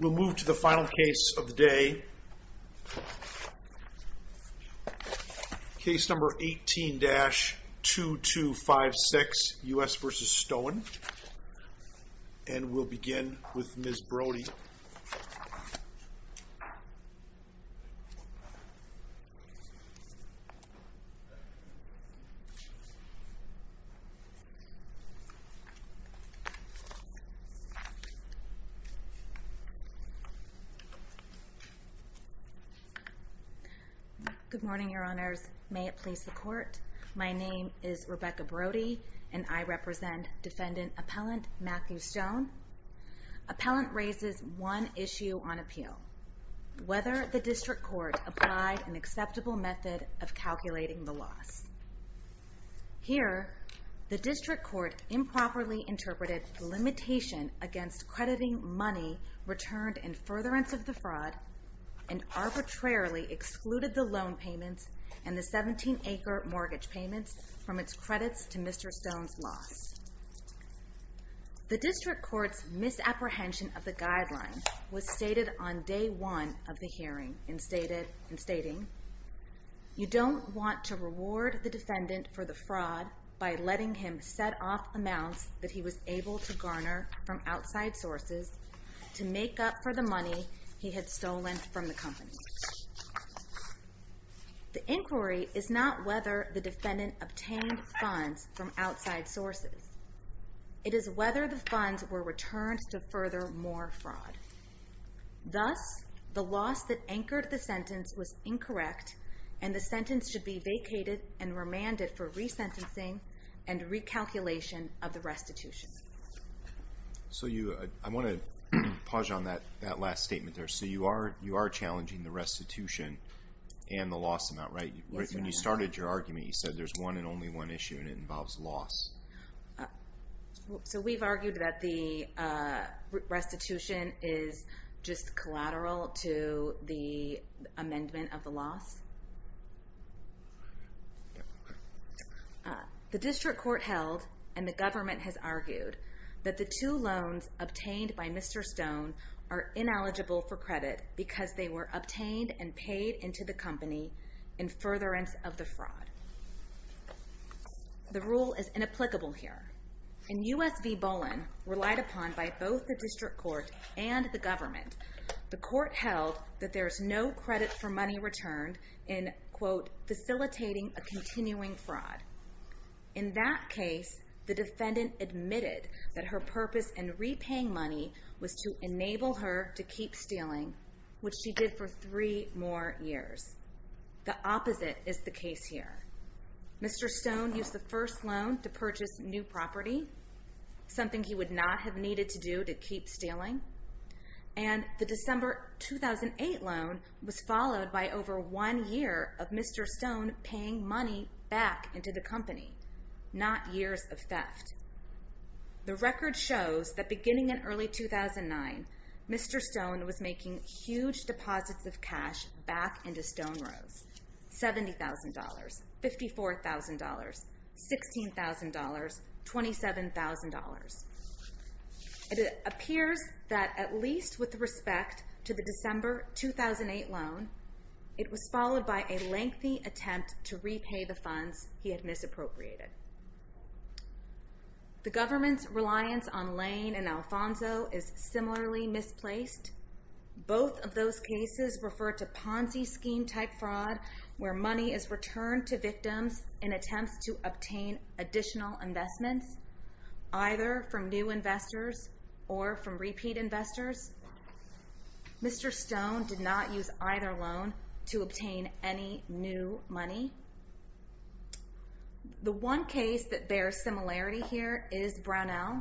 We'll move to the final case of the day, case number 18-2256, U.S. v. Stoen, and we'll begin with Ms. Brody. Good morning, Your Honors. May it please the Court, my name is Rebecca Brody, and I represent Defendant Appellant Matthew Stoen. Appellant raises one issue on appeal, whether the District Court applied an acceptable method of calculating the loss. Here, the District Court improperly interpreted the limitation against crediting money returned in furtherance of the fraud, and arbitrarily excluded the loan payments and the 17-acre mortgage payments from its credits to Mr. Stoen's loss. The District Court's misapprehension of the guideline was stated on Day 1 of the hearing, in stating, You don't want to reward the defendant for the fraud by letting him set off amounts that he was able to garner from outside sources to make up for the money he had stolen from the company. The inquiry is not whether the defendant obtained funds from outside sources. It is whether the funds were returned to further more fraud. Thus, the loss that anchored the sentence was incorrect, and the sentence should be vacated and remanded for resentencing and recalculation of the restitution. So you, I want to pause you on that last statement there. So you are challenging the restitution and the loss amount, right? Yes, Your Honor. When you started your argument, you said there's one and only one issue, and it involves loss. So we've argued that the restitution is just collateral to the amendment of the loss? The District Court held, and the government has argued, that the two loans obtained by Mr. Stoen are ineligible for credit because they were obtained and paid into the company in furtherance of the fraud. The rule is inapplicable here. In U.S. v. Bolin, relied upon by both the District Court and the government, the court held that there's no credit for money returned in, quote, facilitating a continuing fraud. In that case, the defendant admitted that her purpose in repaying money was to enable her to keep stealing, which she did for three more years. The opposite is the case here. Mr. Stoen used the first loan to purchase new property, something he would not have needed to do to keep stealing. And the December 2008 loan was followed by over one year of Mr. Stoen paying money back into the company, not years of theft. The record shows that beginning in early 2009, Mr. Stoen was making huge deposits of cash back into Stoen Rose. $70,000, $54,000, $16,000, $27,000. It appears that at least with respect to the December 2008 loan, it was followed by a lengthy attempt to repay the funds he had misappropriated. The government's reliance on Lane and Alfonso is similarly misplaced. Both of those cases refer to Ponzi scheme-type fraud, where money is returned to victims in attempts to obtain additional investments, either from new investors or from repeat investors. Mr. Stoen did not use either loan to obtain any new money. The one case that bears similarity here is Brownell,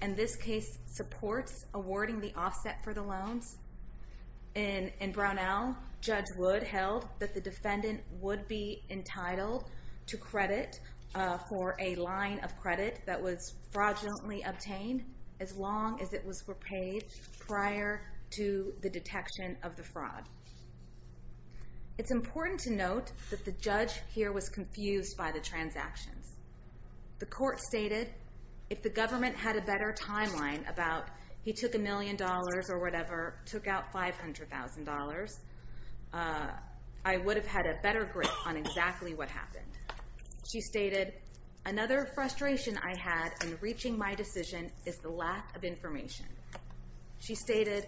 and this case supports awarding the offset for the loans. In Brownell, Judge Wood held that the defendant would be entitled to credit for a line of credit that was fraudulently obtained as long as it was repaid prior to the detection of the fraud. It's important to note that the judge here was confused by the transactions. The court stated, if the government had a better timeline about he took a million dollars or whatever, took out $500,000, I would have had a better grip on exactly what happened. She stated, another frustration I had in reaching my decision is the lack of information. She stated,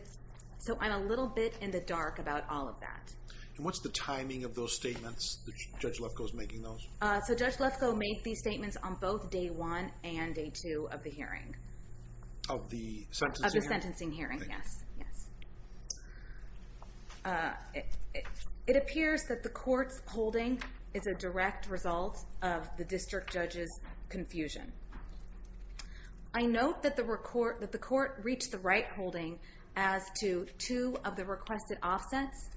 so I'm a little bit in the dark about all of that. And what's the timing of those statements, Judge Lefkoe's making those? So Judge Lefkoe made these statements on both day one and day two of the hearing. Of the sentencing hearing? Of the sentencing hearing, yes. It appears that the court's holding is a direct result of the district judge's confusion. I note that the court reached the right holding as to two of the requested offsets,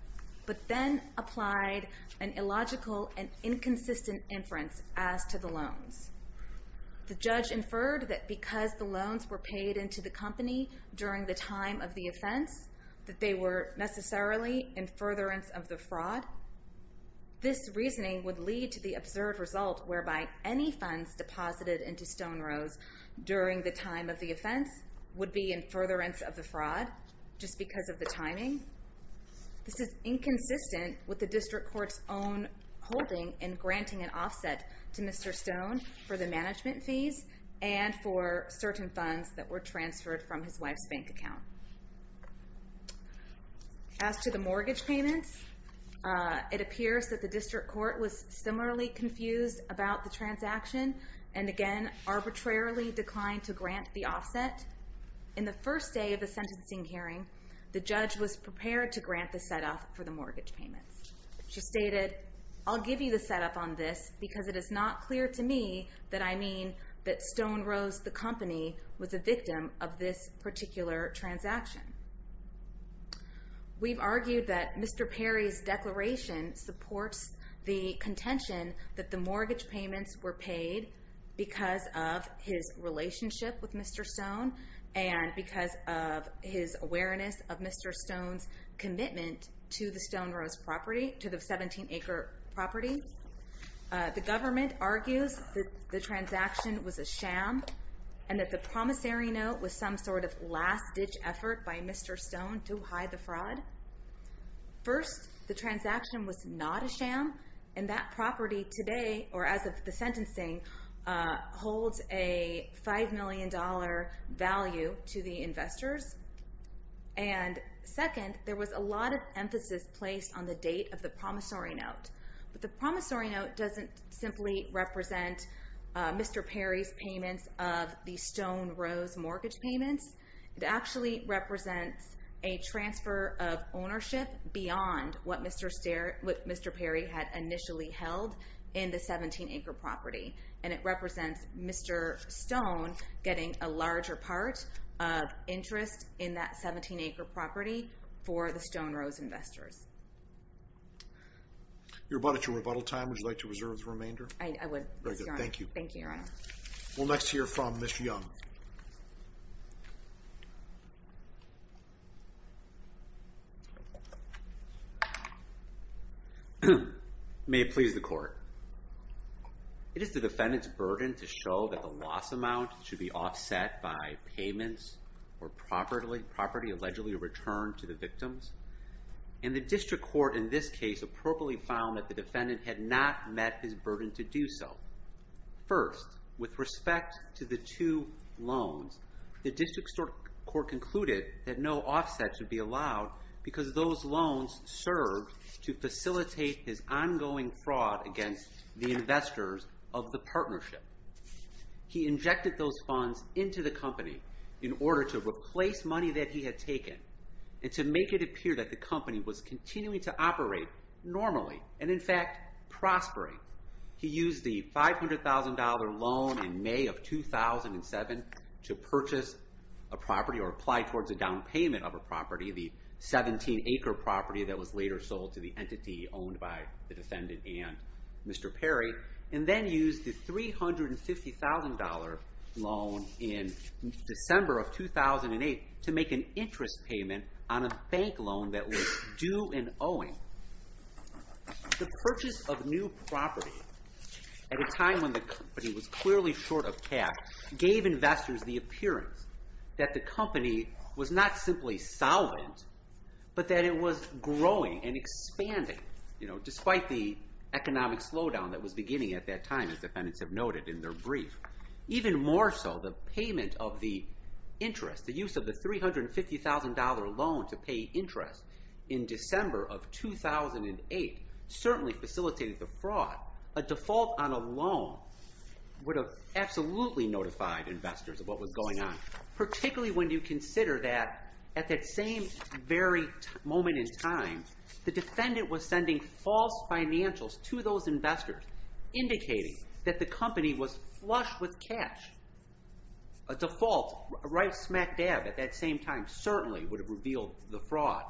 but then applied an illogical and inconsistent inference as to the loans. The judge inferred that because the loans were paid into the company during the time of the offense, that they were necessarily in furtherance of the fraud. This reasoning would lead to the absurd result whereby any funds deposited into Stone Rose during the time of the offense would be in furtherance of the fraud, just because of the timing. This is inconsistent with the district court's own holding in granting an offset to Mr. Stone for the management fees and for certain funds that were transferred from his wife's bank account. As to the mortgage payments, it appears that the district court was similarly confused about the transaction and, again, arbitrarily declined to grant the offset. In the first day of the sentencing hearing, the judge was prepared to grant the set-off for the mortgage payments. She stated, I'll give you the set-off on this because it is not clear to me that I mean that Stone Rose, the company, was a victim of this particular transaction. We've argued that Mr. Perry's declaration supports the contention that the mortgage payments were paid because of his relationship with Mr. Stone and because of his awareness of Mr. Stone's commitment to the Stone Rose property, to the 17-acre property. The government argues that the transaction was a sham and that the promissory note was some sort of last-ditch effort by Mr. Stone to hide the fraud. First, the transaction was not a sham, and that property today, or as of the sentencing, holds a $5 million value to the investors. And second, there was a lot of emphasis placed on the date of the promissory note. But the promissory note doesn't simply represent Mr. Perry's payments of the Stone Rose mortgage payments. It actually represents a transfer of ownership beyond what Mr. Perry had initially held in the 17-acre property. And it represents Mr. Stone getting a larger part of interest in that 17-acre property for the Stone Rose investors. You're about at your rebuttal time. Would you like to reserve the remainder? I would, Your Honor. Very good. Thank you. Thank you, Your Honor. We'll next hear from Ms. Young. May it please the Court. It is the defendant's burden to show that the loss amount should be offset by payments or property allegedly returned to the victims. And the district court in this case appropriately found that the defendant had not met his burden to do so. First, with respect to the two loans, the district court concluded that no offsets would be allowed because those loans served to facilitate his ongoing fraud against the investors of the partnership. He injected those funds into the company in order to replace money that he had taken and to make it appear that the company was continuing to operate normally and, in fact, prospering. He used the $500,000 loan in May of 2007 to purchase a property or apply towards a down payment of a property, the 17-acre property that was later sold to the entity owned by the defendant and Mr. Perry, and then used the $350,000 loan in December of 2008 to make an interest payment on a bank loan that was due in owing. The purchase of new property at a time when the company was clearly short of cash gave investors the appearance that the company was not simply solvent, but that it was growing and expanding, despite the economic slowdown that was beginning at that time, as defendants have noted in their brief. Even more so, the payment of the interest, the use of the $350,000 loan to pay interest in December of 2008 certainly facilitated the fraud. A default on a loan would have absolutely notified investors of what was going on, particularly when you consider that at that same very moment in time, the defendant was sending false financials to those investors, indicating that the company was flush with cash. A default right smack dab at that same time certainly would have revealed the fraud.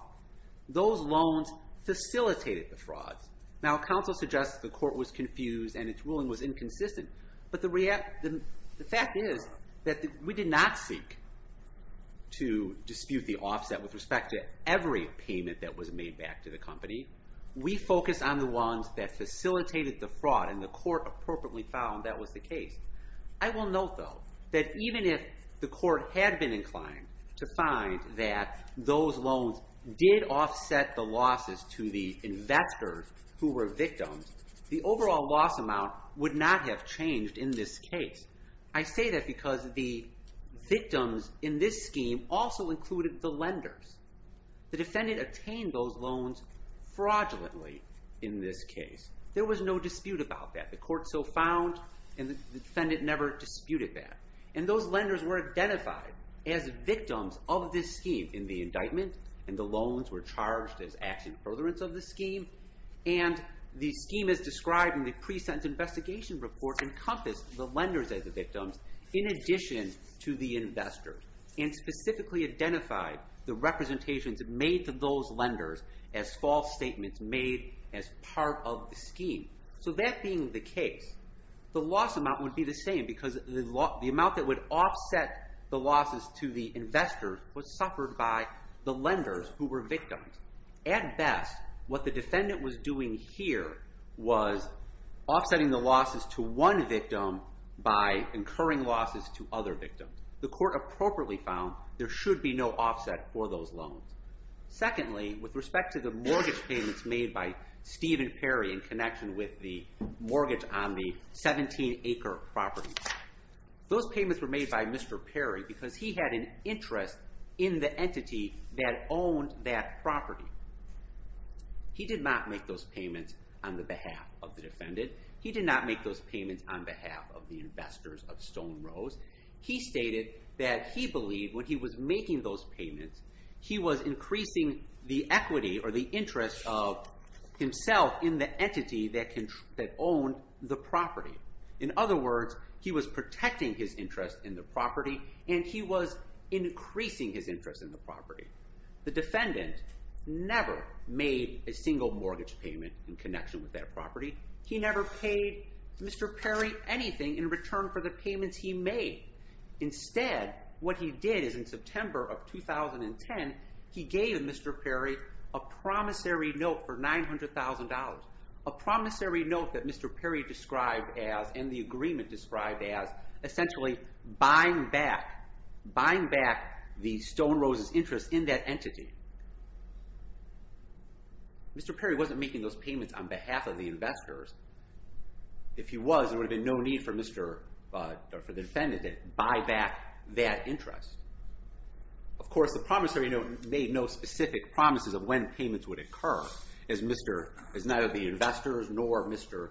Those loans facilitated the fraud. Now, counsel suggests the court was confused and its ruling was inconsistent, but the fact is that we did not seek to dispute the offset with respect to every payment that was made back to the company. We focused on the ones that facilitated the fraud, and the court appropriately found that was the case. I will note, though, that even if the court had been inclined to find that those loans did offset the losses to the investors who were victims, the overall loss amount would not have changed in this case. I say that because the victims in this scheme also included the lenders. The defendant attained those loans fraudulently in this case. There was no dispute about that. The court so found, and the defendant never disputed that. And those lenders were identified as victims of this scheme in the indictment, and the loans were charged as action furtherance of the scheme. And the scheme as described in the pre-sentence investigation report encompassed the lenders as the victims in addition to the investors, and specifically identified the representations made to those lenders as false statements made as part of the scheme. So that being the case, the loss amount would be the same because the amount that would offset the losses to the investors was suffered by the lenders who were victims. At best, what the defendant was doing here was offsetting the losses to one victim by incurring losses to other victims. The court appropriately found there should be no offset for those loans. Secondly, with respect to the mortgage payments made by Stephen Perry in connection with the mortgage on the 17-acre property, those payments were made by Mr. Perry because he had an interest in the entity that owned that property. He did not make those payments on the behalf of the defendant. He did not make those payments on behalf of the investors of Stone Rose. He stated that he believed when he was making those payments, he was increasing the equity or the interest of himself in the entity that owned the property. In other words, he was protecting his interest in the property, and he was increasing his interest in the property. The defendant never made a single mortgage payment in connection with that property. He never paid Mr. Perry anything in return for the payments he made. Instead, what he did is in September of 2010, he gave Mr. Perry a promissory note for $900,000, a promissory note that Mr. Perry described as, and the agreement described as, essentially buying back the Stone Rose's interest in that entity. Mr. Perry wasn't making those payments on behalf of the investors. If he was, there would have been no need for the defendant to buy back that interest. Of course, the promissory note made no specific promises of when payments would occur, as neither the investors nor Mr.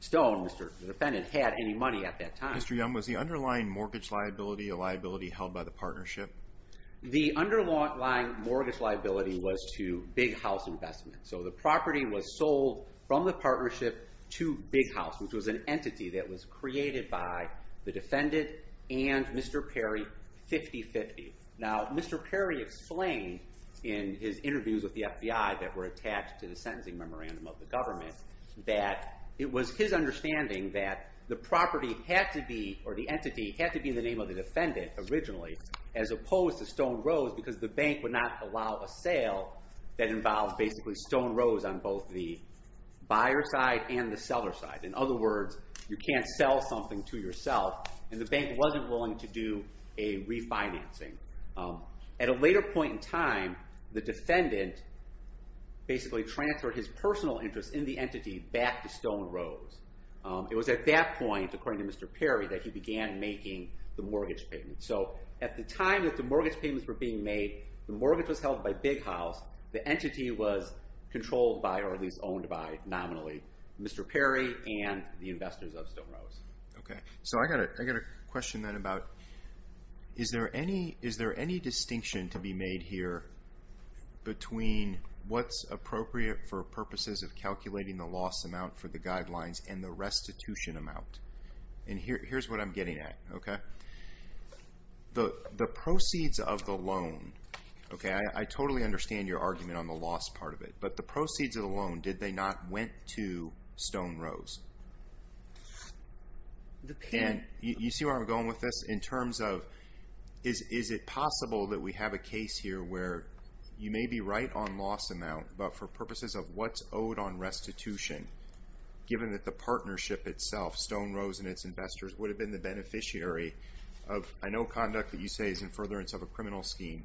Stone, the defendant, had any money at that time. Mr. Young, was the underlying mortgage liability a liability held by the partnership? The underlying mortgage liability was to Big House Investments. So the property was sold from the partnership to Big House, which was an entity that was created by the defendant and Mr. Perry 50-50. Now, Mr. Perry explained in his interviews with the FBI that were attached to the sentencing memorandum of the government that it was his understanding that the property had to be, or the entity, had to be in the name of the defendant originally, as opposed to Stone Rose, because the bank would not allow a sale that involved basically Stone Rose on both the buyer's side and the seller's side. In other words, you can't sell something to yourself, and the bank wasn't willing to do a refinancing. At a later point in time, the defendant basically transferred his personal interest in the entity back to Stone Rose. It was at that point, according to Mr. Perry, that he began making the mortgage payments. So at the time that the mortgage payments were being made, the mortgage was held by Big House. The entity was controlled by, or at least owned by nominally, Mr. Perry and the investors of Stone Rose. Okay, so I've got a question then about is there any distinction to be made here between what's appropriate for purposes of calculating the loss amount for the guidelines and the restitution amount? And here's what I'm getting at, okay? The proceeds of the loan, okay, I totally understand your argument on the loss part of it, but the proceeds of the loan, did they not went to Stone Rose? And you see where I'm going with this? In terms of is it possible that we have a case here where you may be right on loss amount, but for purposes of what's owed on restitution, given that the partnership itself, Stone Rose and its investors, would have been the beneficiary of, I know conduct that you say is in furtherance of a criminal scheme,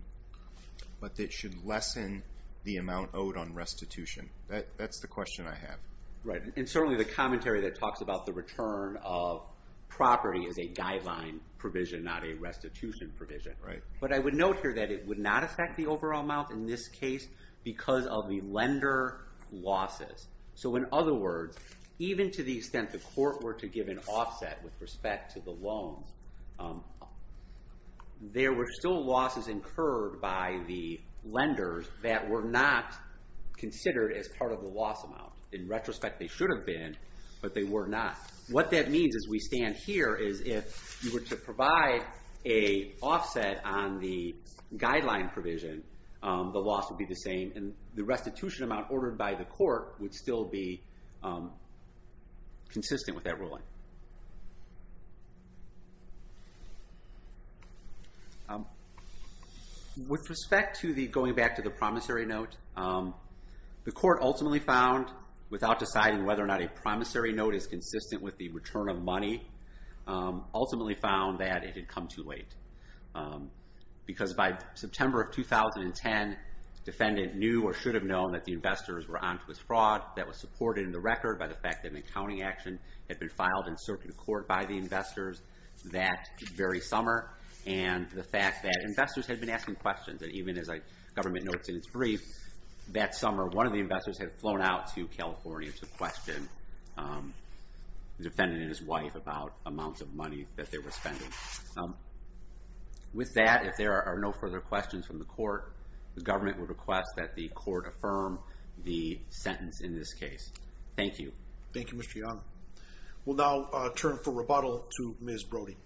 but that should lessen the amount owed on restitution. That's the question I have. Right, and certainly the commentary that talks about the return of property is a guideline provision, not a restitution provision. But I would note here that it would not affect the overall amount in this case because of the lender losses. So in other words, even to the extent the court were to give an offset with respect to the loans, there were still losses incurred by the lenders that were not considered as part of the loss amount. In retrospect, they should have been, but they were not. What that means as we stand here is if you were to provide a offset on the guideline provision, the loss would be the same, and the restitution amount ordered by the court would still be consistent with that ruling. With respect to going back to the promissory note, the court ultimately found, without deciding whether or not a promissory note is consistent with the return of money, ultimately found that it had come too late because by September of 2010, the defendant knew or should have known that the investors were on to his fraud. That was supported in the record by the fact that an accounting action had been filed in circuit court by the investors that very summer and the fact that investors had been asking questions. And even as the government notes in its brief, that summer one of the investors had flown out to California to question the defendant and his wife about amounts of money that they were spending. With that, if there are no further questions from the court, the government would request that the court affirm the sentence in this case. Thank you. Thank you, Mr. Young. We'll now turn for rebuttal to Ms. Brody. Thank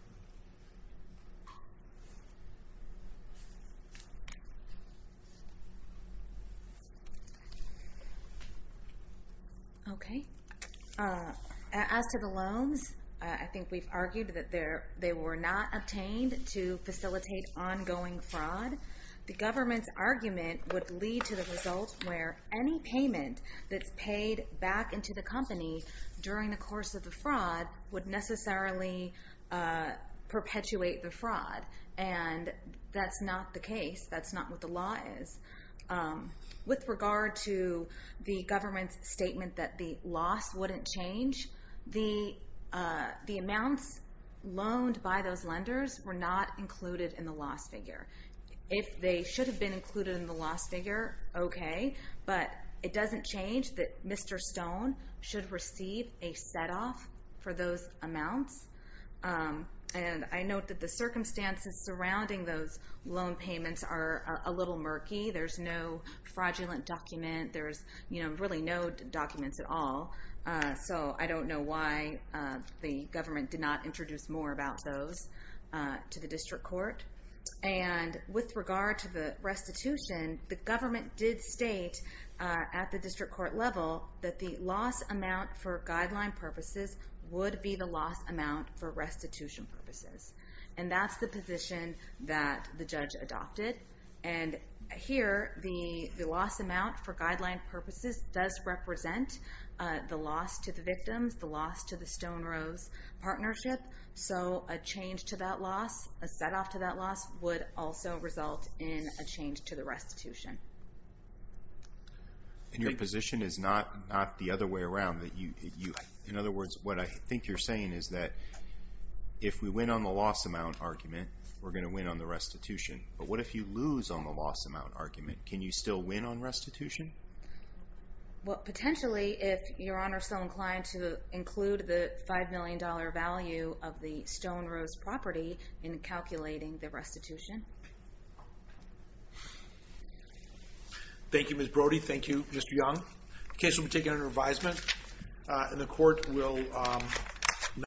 you. Okay. As to the loans, I think we've argued that they were not obtained to facilitate ongoing fraud. The government's argument would lead to the result where any payment that's paid back into the company during the course of the fraud would necessarily perpetuate the fraud. And that's not the case. That's not what the law is. With regard to the government's statement that the loss wouldn't change, the amounts loaned by those lenders were not included in the loss figure. If they should have been included in the loss figure, okay. But it doesn't change that Mr. Stone should receive a set-off for those amounts. And I note that the circumstances surrounding those loan payments are a little murky. There's no fraudulent document. There's really no documents at all. So I don't know why the government did not introduce more about those to the district court. And with regard to the restitution, the government did state at the district court level that the loss amount for guideline purposes would be the loss amount for restitution purposes. And that's the position that the judge adopted. And here the loss amount for guideline purposes does represent the loss to the victims, the loss to the Stone-Rose partnership. So a change to that loss, a set-off to that loss, would also result in a change to the restitution. And your position is not the other way around. In other words, what I think you're saying is that if we win on the loss amount argument, we're going to win on the restitution. But what if you lose on the loss amount argument? Can you still win on restitution? Well, potentially, if Your Honor is so inclined to include the $5 million value of the Stone-Rose property in calculating the restitution. Thank you, Ms. Brody. Thank you, Mr. Young. The case will be taken under advisement. And the court will...